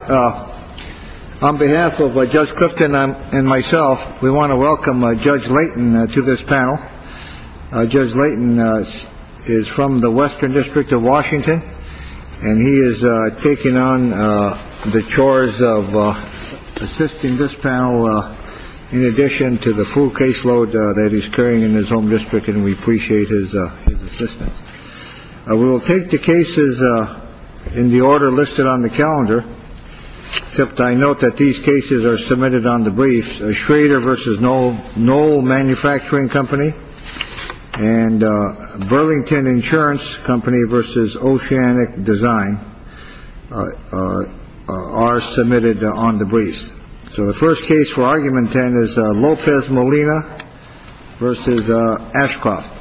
On behalf of Judge Clifton and myself, we want to welcome Judge Layton to this panel. Judge Layton is from the Western District of Washington, and he is taking on the chores of assisting this panel. In addition to the full caseload that he's carrying in his home district. And we appreciate his assistance. We will take the cases in the order listed on the calendar, except I note that these cases are submitted on the briefs. Schrader versus no, no manufacturing company and Burlington Insurance Company versus oceanic design are submitted on the briefs. So the first case for argument is Lopez Molina versus Ashcroft.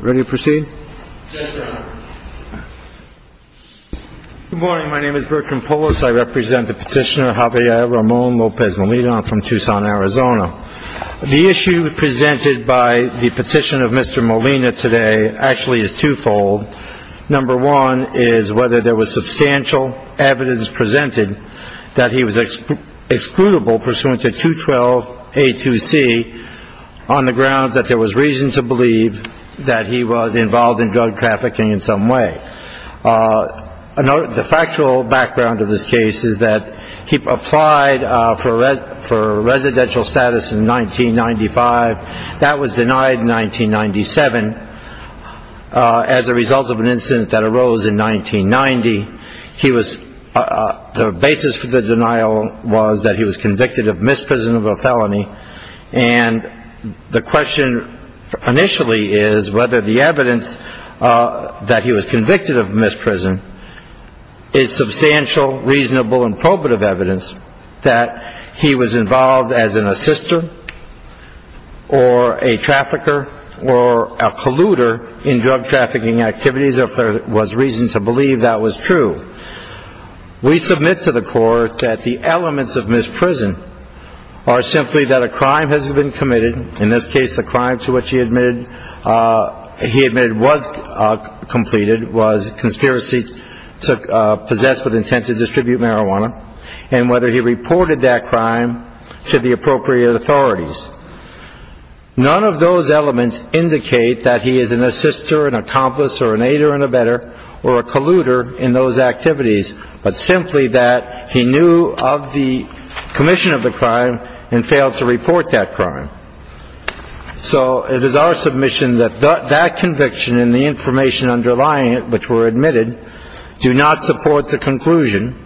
Ready to proceed. Good morning. My name is Bertram Polis. I represent the petitioner, Javier Ramon Lopez Molina from Tucson, Arizona. The issue presented by the petition of Mr. Molina today actually is twofold. Number one is whether there was substantial evidence presented that he was excludable pursuant to 212. A2C on the grounds that there was reason to believe that he was involved in drug trafficking in some way. The factual background of this case is that he applied for it for residential status in 1995. That was denied in 1997 as a result of an incident that arose in 1990. He was the basis for the denial was that he was convicted of misprison of a felony. And the question initially is whether the evidence that he was convicted of misprison is substantial, reasonable, and probative evidence that he was involved as an assister or a trafficker or a polluter in drug trafficking activities. If there was reason to believe that was true. We submit to the court that the elements of misprison are simply that a crime has been committed. In this case, the crime to which he admitted he admitted was completed was conspiracy to possess with intent to distribute marijuana. And whether he reported that crime to the appropriate authorities. None of those elements indicate that he is an assister, an accomplice or an aider and a better or a polluter in those activities, but simply that he knew of the commission of the crime and failed to report that crime. So it is our submission that that conviction and the information underlying it, which were admitted, do not support the conclusion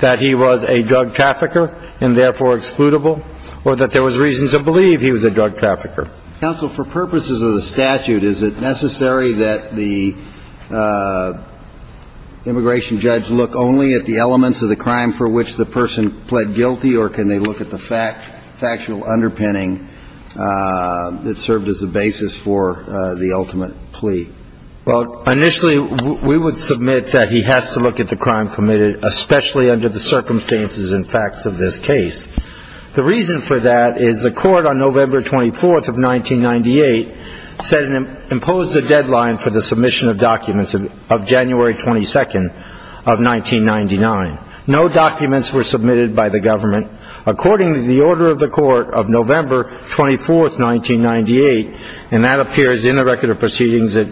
that he was a drug trafficker and therefore excludable or that there was reason to believe he was a drug trafficker. Counsel, for purposes of the statute, is it necessary that the immigration judge look only at the elements of the crime for which the person pled guilty or can they look at the fact factual underpinning that served as the basis for the ultimate plea? Well, initially, we would submit that he has to look at the crime committed, especially under the circumstances and facts of this case. The reason for that is the court on November 24th of 1998 said it imposed a deadline for the submission of documents of January 22nd of 1999. No documents were submitted by the government. According to the order of the court of November 24th, 1998, and that appears in the record of proceedings at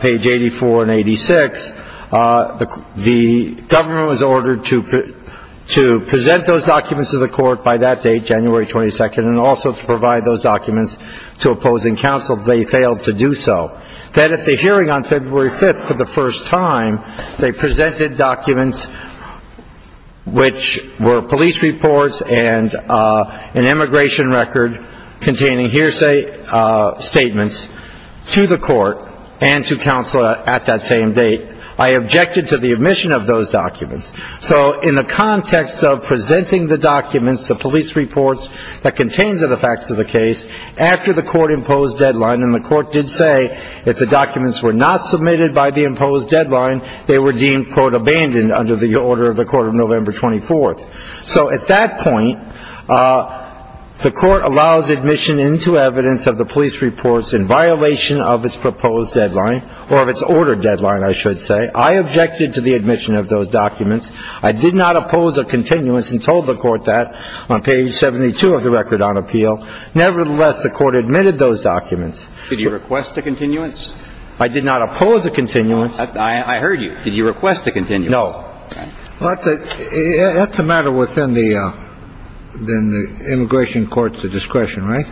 page 84 and 86, the government was ordered to present those documents to the court by that date, January 22nd, and also to provide those documents to opposing counsel if they failed to do so. Then at the hearing on February 5th for the first time, they presented documents which were police reports and an immigration record containing hearsay statements to the court and to counsel at that same date. I objected to the admission of those documents. So in the context of presenting the documents, the police reports that contained the facts of the case, after the court imposed deadline, and the court did say if the documents were not submitted by the imposed deadline, they were deemed, quote, abandoned under the order of the court of November 24th. So at that point, the court allows admission into evidence of the police reports in violation of its proposed deadline, or of its ordered deadline, I should say. I objected to the admission of those documents. I did not oppose a continuance and told the court that on page 72 of the record on appeal. Nevertheless, the court admitted those documents. Did you request a continuance? I did not oppose a continuance. I heard you. Did you request a continuance? No. Well, that's a matter within the immigration court's discretion, right?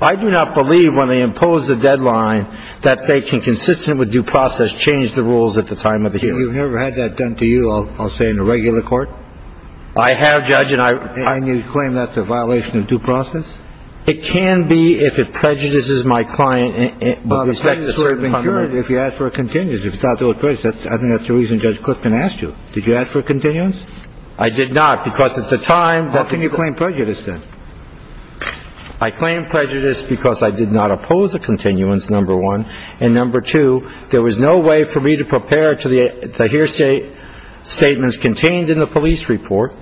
I do not believe when they impose a deadline that they can, consistent with due process, change the rules at the time of the hearing. You've never had that done to you, I'll say, in a regular court? I have, Judge, and I. And you claim that's a violation of due process? It can be if it prejudices my client with respect to certain fundamental. Well, if you ask for a continuance, if it's not due to prejudice, I think that's the reason Judge Clifton asked you. Did you ask for a continuance? I did not, because at the time the court. How can you claim prejudice then? I claim prejudice because I did not oppose a continuance, number one. And number two, there was no way for me to prepare to hear statements contained in the police report.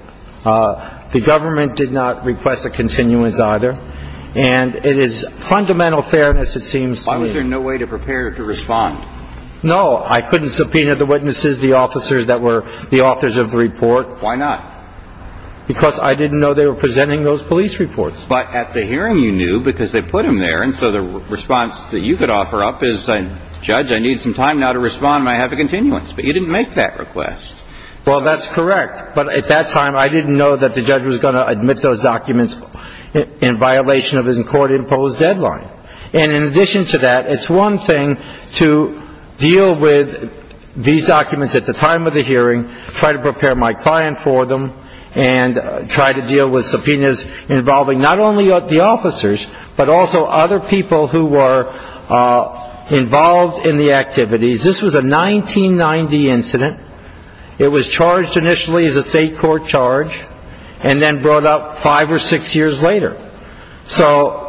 The government did not request a continuance either. And it is fundamental fairness, it seems to me. Why was there no way to prepare to respond? No, I couldn't subpoena the witnesses, the officers that were the authors of the report. Why not? Because I didn't know they were presenting those police reports. But at the hearing you knew because they put them there, and so the response that you could offer up is, Judge, I need some time now to respond and I have a continuance. But you didn't make that request. Well, that's correct. But at that time I didn't know that the judge was going to admit those documents in violation of his court-imposed deadline. And in addition to that, it's one thing to deal with these documents at the time of the hearing, try to prepare my client for them, and try to deal with subpoenas involving not only the officers, but also other people who were involved in the activities. This was a 1990 incident. It was charged initially as a state court charge and then brought up five or six years later. So,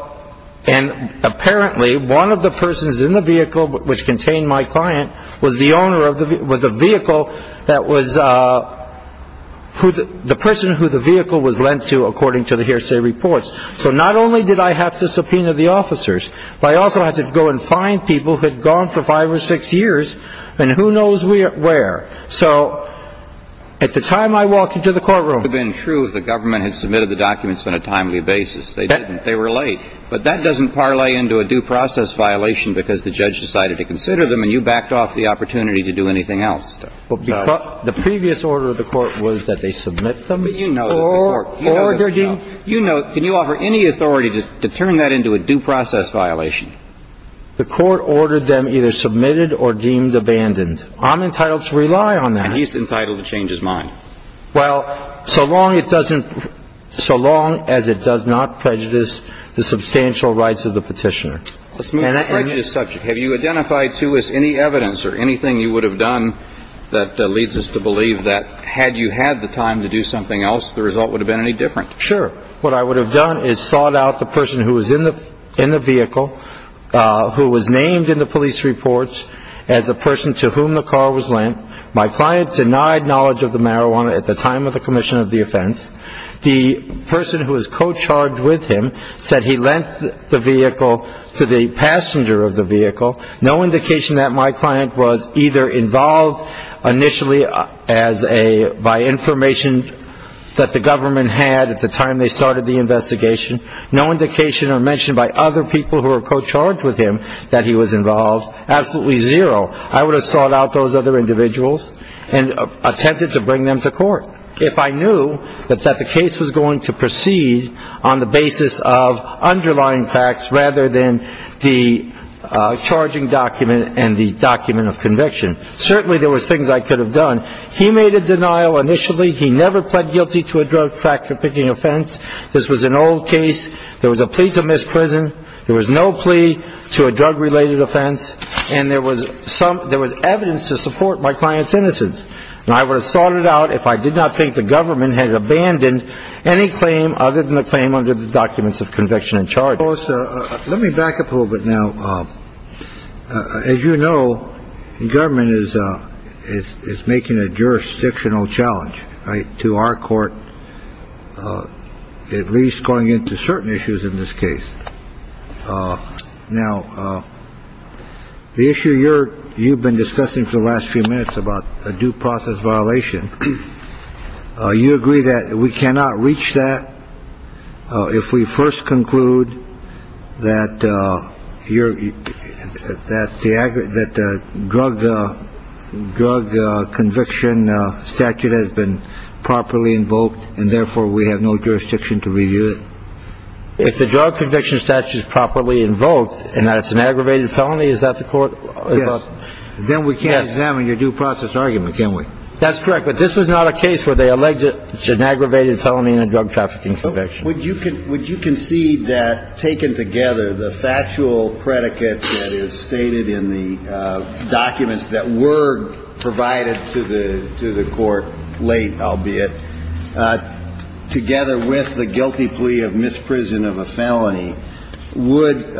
and apparently one of the persons in the vehicle which contained my client was the owner of the vehicle, was a vehicle that was the person who the vehicle was lent to according to the hearsay reports. So not only did I have to subpoena the officers, but I also had to go and find people who had gone for five or six years and who knows where. So at the time I walked into the courtroom. It would have been true if the government had submitted the documents on a timely basis. They didn't. They were late. But that doesn't parlay into a due process violation because the judge decided to consider them and you backed off the opportunity to do anything else. But the previous order of the court was that they submit them. But you know the court. Or they're deemed. You know. Can you offer any authority to turn that into a due process violation? The court ordered them either submitted or deemed abandoned. I'm entitled to rely on that. And he's entitled to change his mind. Well, so long it doesn't. So long as it does not prejudice the substantial rights of the petitioner. Let's move right to the subject. Have you identified to us any evidence or anything you would have done that leads us to believe that had you had the time to do something else, the result would have been any different? Sure. What I would have done is sought out the person who was in the vehicle, who was named in the police reports as the person to whom the car was lent. My client denied knowledge of the marijuana at the time of the commission of the offense. The person who was co-charged with him said he lent the vehicle to the passenger of the vehicle. No indication that my client was either involved initially by information that the government had at the time they started the investigation. No indication or mention by other people who were co-charged with him that he was involved. Absolutely zero. I would have sought out those other individuals and attempted to bring them to court if I knew that the case was going to proceed on the basis of underlying facts rather than the charging document and the document of conviction. Certainly there were things I could have done. He made a denial initially. He never pled guilty to a drug trafficking offense. This was an old case. There was a plea to misprison. There was no plea to a drug related offense. And there was some there was evidence to support my client's innocence. And I would have sought it out if I did not think the government had abandoned any claim other than the claim under the documents of conviction and charge. Let me back up a little bit now. As you know, the government is making a jurisdictional challenge to our court, at least going into certain issues in this case. Now, the issue you're you've been discussing for the last few minutes about a due process violation. You agree that we cannot reach that if we first conclude that you're that the aggregate that the drug, the drug conviction statute has been properly invoked and therefore we have no jurisdiction to review it. If the drug conviction statute is properly invoked and that it's an aggravated felony, is that the court? Then we can't examine your due process argument, can we? That's correct. But this was not a case where they alleged it should an aggravated felony in a drug trafficking conviction. Would you can would you concede that taken together, the factual predicates that is stated in the documents that were provided to the to the court late, albeit, together with the guilty plea of misprison of a felony would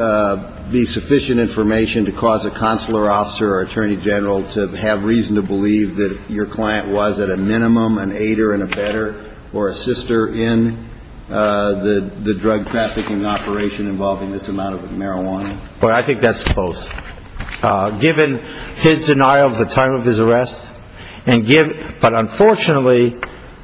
be sufficient information to cause a consular officer or attorney general to have reason to believe that your client was at a minimum an aider and a better or a sister in the drug trafficking operation involving this amount of marijuana? Well, I think that's close, given his denial of the time of his arrest and give. But unfortunately,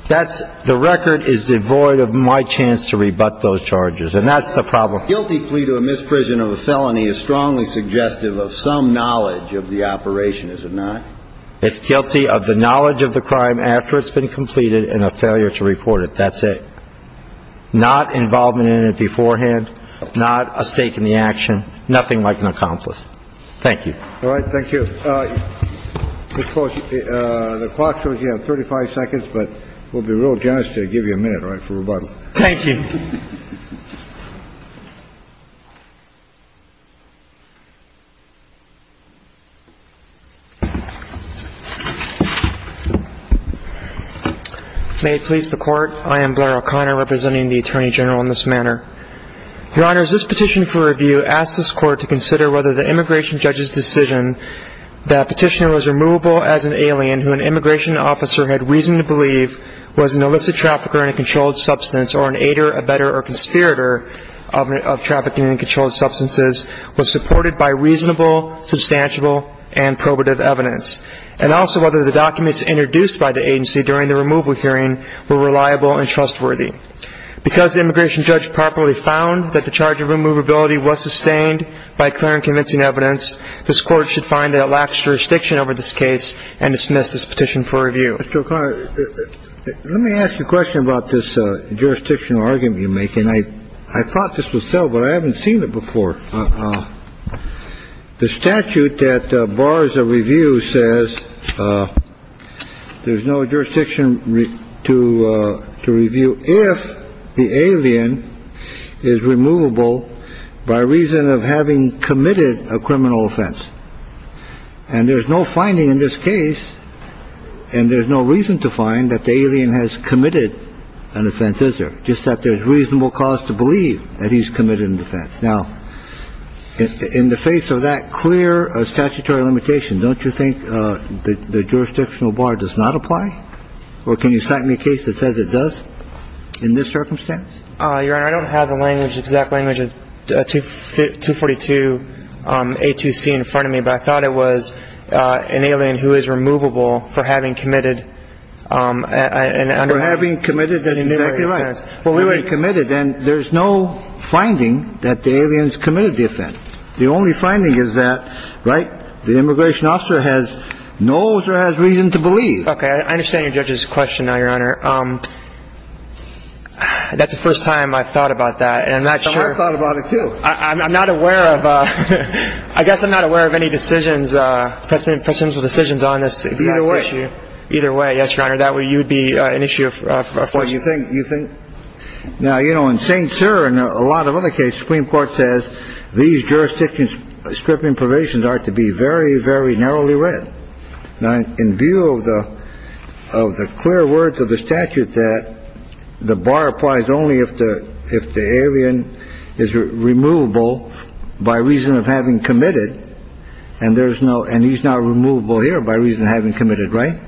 that's the record is devoid of my chance to rebut those charges. And that's the problem. The guilty plea to a misprision of a felony is strongly suggestive of some knowledge of the operation, is it not? It's guilty of the knowledge of the crime after it's been completed and a failure to report it. That's it. Not involvement in it beforehand. Not a stake in the action. Nothing like an accomplice. Thank you. All right. Thank you. The clock shows you have 35 seconds, but we'll be real generous to give you a minute for rebuttal. Thank you. May it please the Court. I am Blair O'Connor, representing the Attorney General in this manner. Your Honors, this petition for review asks this Court to consider whether the immigration judge's decision that petitioner was removable as an alien who an immigration officer had reason to believe was an illicit trafficker in a controlled substance or an aider, a better or a sister in the drug trafficking operation and a better or conspirator of trafficking in controlled substances was supported by reasonable, substantial and probative evidence and also whether the documents introduced by the agency during the removal hearing were reliable and trustworthy. Because the immigration judge properly found that the charge of removability was sustained by clear and convincing evidence, this Court should find that it lacks jurisdiction over this case and dismiss this petition for review. Mr. O'Connor, let me ask you a question about this jurisdictional argument you make. And I thought this was settled, but I haven't seen it before. The statute that bars a review says there's no jurisdiction to review if the alien is removable by reason of having committed a criminal offense. And there's no finding in this case and there's no reason to find that the alien has committed an offense, is there? Just that there's reasonable cause to believe that he's committed an offense. Now, in the face of that clear statutory limitation, don't you think the jurisdictional bar does not apply? Or can you cite me a case that says it does in this circumstance? Your Honor, I don't have the exact language of 242A2C in front of me, but I thought it was an alien who is removable for having committed an underhanded offense. For having committed an underhanded offense. That's exactly right. For having committed, and there's no finding that the alien has committed the offense. The only finding is that, right, the immigration officer knows or has reason to believe. Okay. I understand your judge's question now, Your Honor. That's the first time I've thought about that. And I'm not sure. I've thought about it, too. I'm not aware of, I guess I'm not aware of any decisions, presidential decisions on this exact issue. Either way. Either way, yes, Your Honor. That would be an issue for you. Well, you think, you think. Now, you know, in St. Cyr and a lot of other cases, the Supreme Court says these jurisdictional provisions are to be very, very narrowly read. Now, in view of the clear words of the statute that the bar applies only if the alien is removable by reason of having committed, and there's no, and he's not removable here by reason of having committed, right?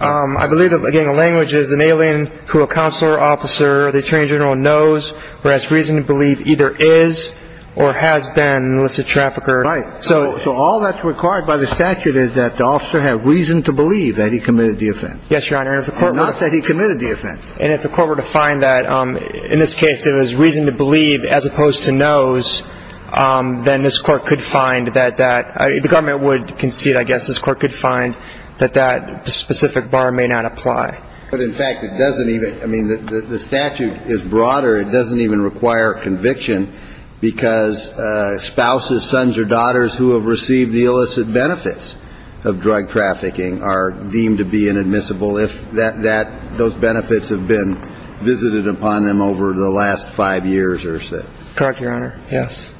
I believe, again, the language is an alien who a consular officer or the attorney general knows or has reason to believe either is or has been an illicit trafficker. Right. So all that's required by the statute is that the officer have reason to believe that he committed the offense. Yes, Your Honor. Not that he committed the offense. And if the court were to find that, in this case, it was reason to believe as opposed to knows, then this Court could find that the government would concede, I guess, this Court could find that that specific bar may not apply. But, in fact, it doesn't even, I mean, the statute is broader. It doesn't even require conviction because spouses, sons or daughters who have received the illicit benefits of drug trafficking are deemed to be inadmissible if that, those benefits have been visited upon them over the last five years or so. Correct, Your Honor. Yes.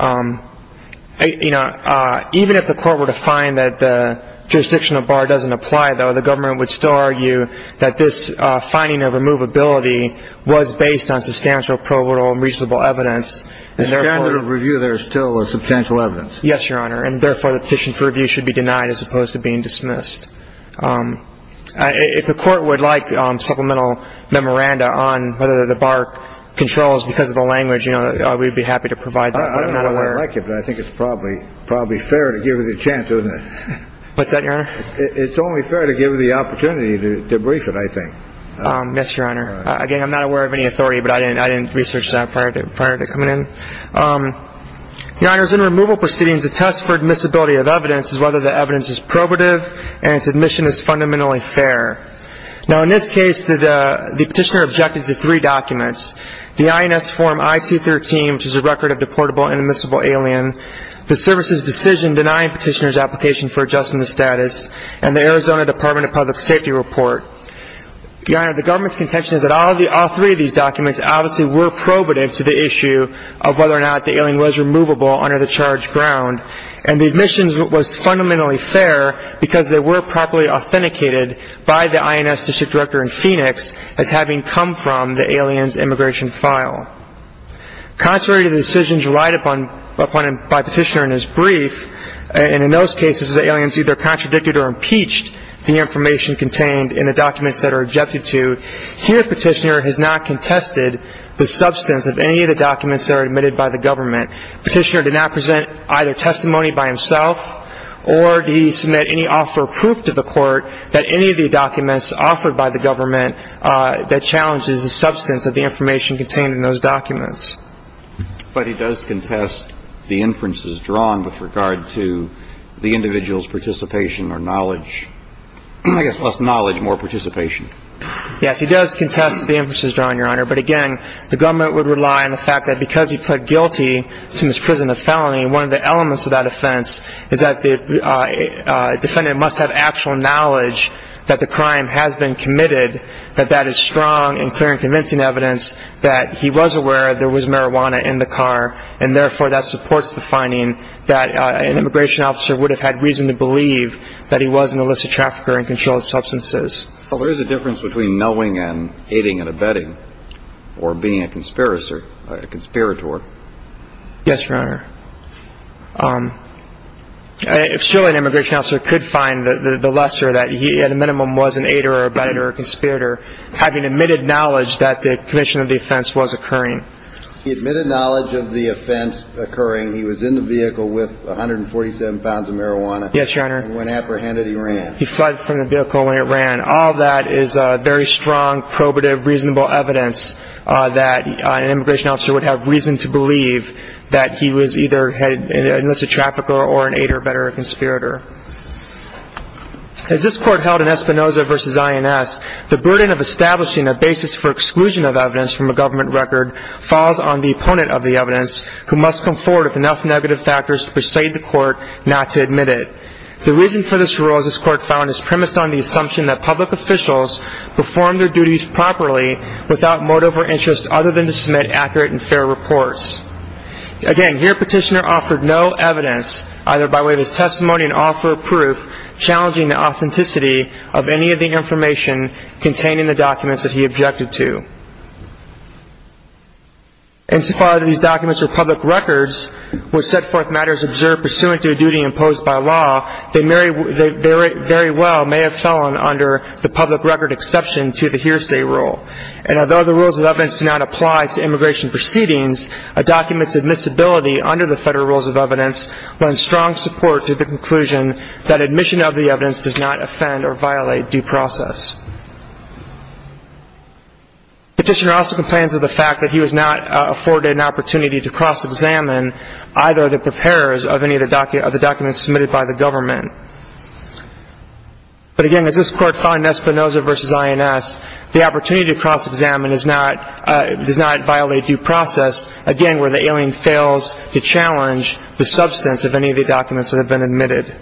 You know, even if the court were to find that the jurisdictional bar doesn't apply, though, the government would still argue that this finding of removability was based on substantial provable and reasonable evidence. In standard of review, there is still a substantial evidence. Yes, Your Honor. And, therefore, the petition for review should be denied as opposed to being dismissed. If the court would like supplemental memoranda on whether the bar controls because of the language, you know, we'd be happy to provide that. I don't know whether I'd like it, but I think it's probably fair to give it a chance, isn't it? What's that, Your Honor? It's only fair to give the opportunity to brief it, I think. Yes, Your Honor. Again, I'm not aware of any authority, but I didn't research that prior to coming in. Your Honor, in removal proceedings, a test for admissibility of evidence is whether the evidence is probative and its admission is fundamentally fair. Now, in this case, the Petitioner objected to three documents, the INS Form I-213, which is a record of deportable and admissible alien, the Service's decision denying Petitioner's application for adjustment of status, and the Arizona Department of Public Safety report. Your Honor, the government's contention is that all three of these documents obviously were probative to the issue of whether or not the alien was removable under the charged ground, and the admission was fundamentally fair because they were properly authenticated by the INS District Director in Phoenix as having come from the alien's immigration file. Contrary to the decisions relied upon by Petitioner in his brief, and in those cases the alien's either contradicted or impeached the information contained in the documents that are objected to, here Petitioner has not contested the substance of any of the documents that are admitted by the government. Petitioner did not present either testimony by himself or did he submit any offer of proof to the court that any of the documents offered by the government that challenges the substance of the information contained in those documents. But he does contest the inferences drawn with regard to the individual's participation or knowledge. I guess less knowledge, more participation. Yes, he does contest the inferences drawn, Your Honor. But again, the government would rely on the fact that because he pled guilty to misprision of felony, one of the elements of that offense is that the defendant must have actual knowledge that the crime has been committed, that that is strong and clear and convincing evidence that he was aware there was marijuana in the car, and therefore that supports the finding that an immigration officer would have had reason to believe that he was an illicit trafficker and controlled substances. So there is a difference between knowing and aiding and abetting or being a conspirator. Yes, Your Honor. Surely an immigration officer could find the lesser that he at a minimum was an aider or abetter or a conspirator having admitted knowledge that the commission of the offense was occurring. He admitted knowledge of the offense occurring. He was in the vehicle with 147 pounds of marijuana. Yes, Your Honor. And when apprehended, he ran. He fled from the vehicle and ran. All that is very strong, probative, reasonable evidence that an immigration officer would have reason to believe that he was either an illicit trafficker or an aider or abetter or a conspirator. As this Court held in Espinoza v. INS, the burden of establishing a basis for exclusion of evidence from a government record falls on the opponent of the evidence who must come forward with enough negative factors to persuade the Court not to admit it. The reason for this rule, as this Court found, is premised on the assumption that public officials perform their duties properly without motive or interest other than to submit accurate and fair reports. Again, here Petitioner offered no evidence, either by way of his testimony and offer of proof, challenging the authenticity of any of the information containing the documents that he objected to. Insofar as these documents are public records, which set forth matters observed pursuant to a duty imposed by law, they very well may have fallen under the public record exception to the hearsay rule. And although the rules of evidence do not apply to immigration proceedings, a document's admissibility under the Federal Rules of Evidence will end strong support to the conclusion that admission of the evidence does not offend or violate due process. Petitioner also complains of the fact that he was not afforded an opportunity to cross-examine either of the preparers of any of the documents submitted by the government. But again, as this Court found in Espinoza v. INS, the opportunity to cross-examine does not violate due process, again, where the alien fails to challenge the substance of any of the documents that have been admitted.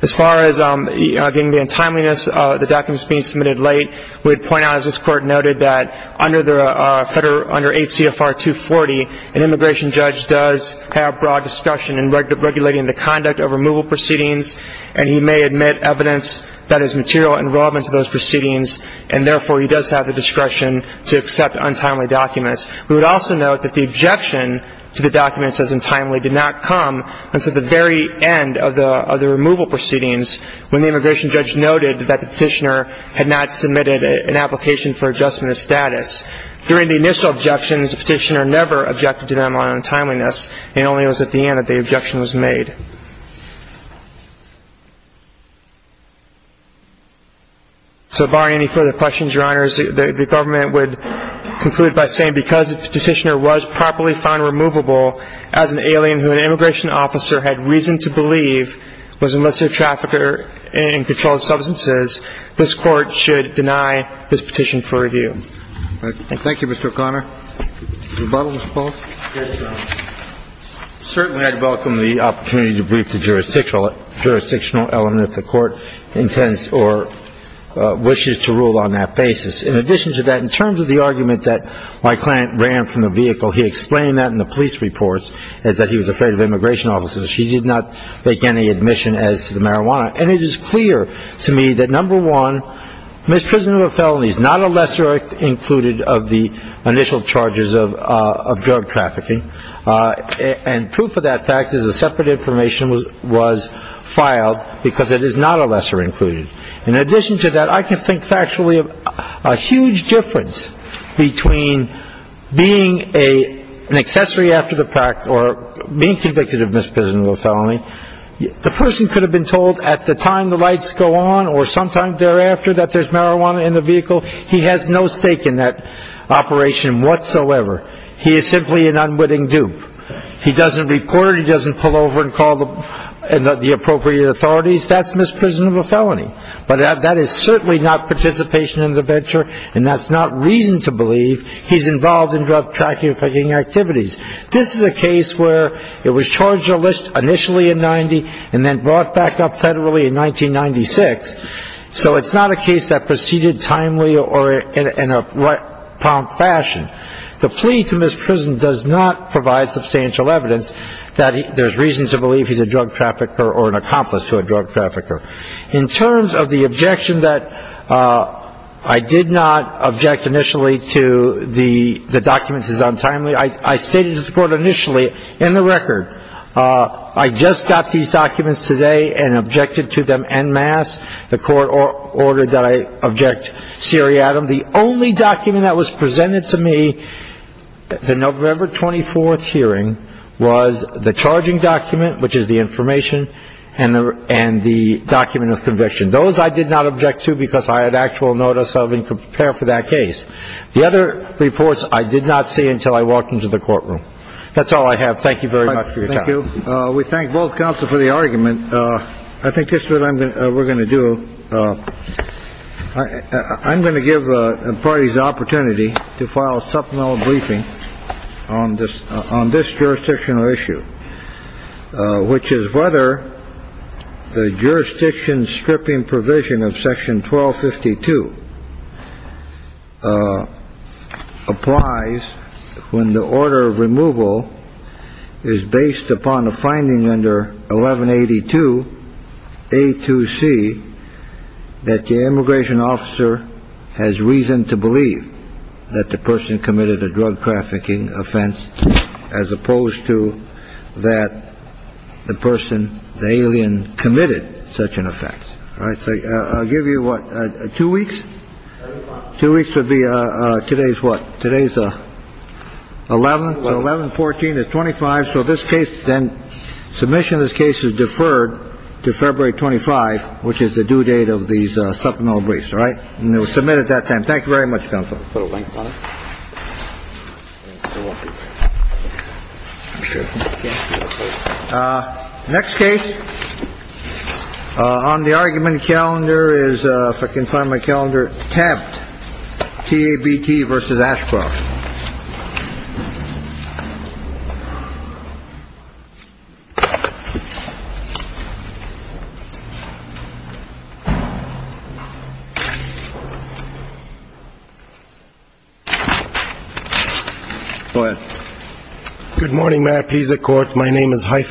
As far as, again, the untimeliness of the documents being submitted late, we would point out, as this Court noted, that under H.C.F.R. 240, an immigration judge does have broad discretion in regulating the conduct of removal proceedings, and he may admit evidence that is material and relevant to those proceedings, and therefore he does have the discretion to accept untimely documents. We would also note that the objection to the documents as untimely did not come until the very end of the removal proceedings, when the immigration judge noted that the petitioner had not submitted an application for adjustment of status. During the initial objections, the petitioner never objected to them on untimeliness, and only it was at the end that the objection was made. So barring any further questions, Your Honors, the Government would conclude by saying because if the petitioner was properly found removable as an alien who an immigration officer had reason to believe was an illicit trafficker in controlled substances, this Court should deny this petition for review. Thank you, Mr. O'Connor. Rebuttal, Mr. Polk? Yes, Your Honor. Certainly I'd welcome the opportunity to brief the jurisdictional element if the Court intends or wishes to rule on that basis. In addition to that, in terms of the argument that my client ran from the vehicle, he explained that in the police reports, is that he was afraid of immigration officers. He did not make any admission as to the marijuana. And it is clear to me that, number one, is not a lesser included of the initial charges of drug trafficking. And proof of that fact is a separate information was filed because it is not a lesser included. In addition to that, I can think factually of a huge difference between being an accessory after the fact or being convicted of misprisonable felony. The person could have been told at the time the lights go on or sometime thereafter that there's marijuana in the vehicle. He has no stake in that operation whatsoever. He is simply an unwitting dupe. He doesn't report. He doesn't pull over and call the appropriate authorities. That's misprisonable felony. But that is certainly not participation in the venture, and that's not reason to believe he's involved in drug trafficking activities. This is a case where it was charged initially in 1990 and then brought back up federally in 1996. So it's not a case that proceeded timely or in a prompt fashion. The plea to misprison does not provide substantial evidence that there's reason to believe he's a drug trafficker or an accomplice to a drug trafficker. In terms of the objection that I did not object initially to the documents as untimely, I stated to the court initially in the record I just got these documents today and objected to them en masse. The court ordered that I object seriatim. The only document that was presented to me at the November 24th hearing was the charging document, which is the information, and the document of conviction. Those I did not object to because I had actual notice of and could prepare for that case. The other reports I did not see until I walked into the courtroom. That's all I have. Thank you very much. Thank you. We thank both counsel for the argument. I think that's what I'm going to we're going to do. I'm going to give parties the opportunity to file a supplemental briefing on this on this jurisdictional issue, which is whether the jurisdiction stripping provision of Section 1252 applies. When the order of removal is based upon a finding under 1182 A to C, that the immigration officer has reason to believe that the person committed a drug trafficking offense, as opposed to that, the person, the alien committed such an offense. All right. I'll give you what, two weeks, two weeks would be today's what? Today's 11, 11, 14 or 25. So this case then submission, this case is deferred to February 25, which is the due date of these supplemental briefs. All right. And it was submitted that time. Thank you very much, counsel. Put a link on it. Next case on the argument calendar is if I can find my calendar. Tab T.A.B.T. versus Ashcroft. Good morning, Mayor. Please, the court. My name is Haifa.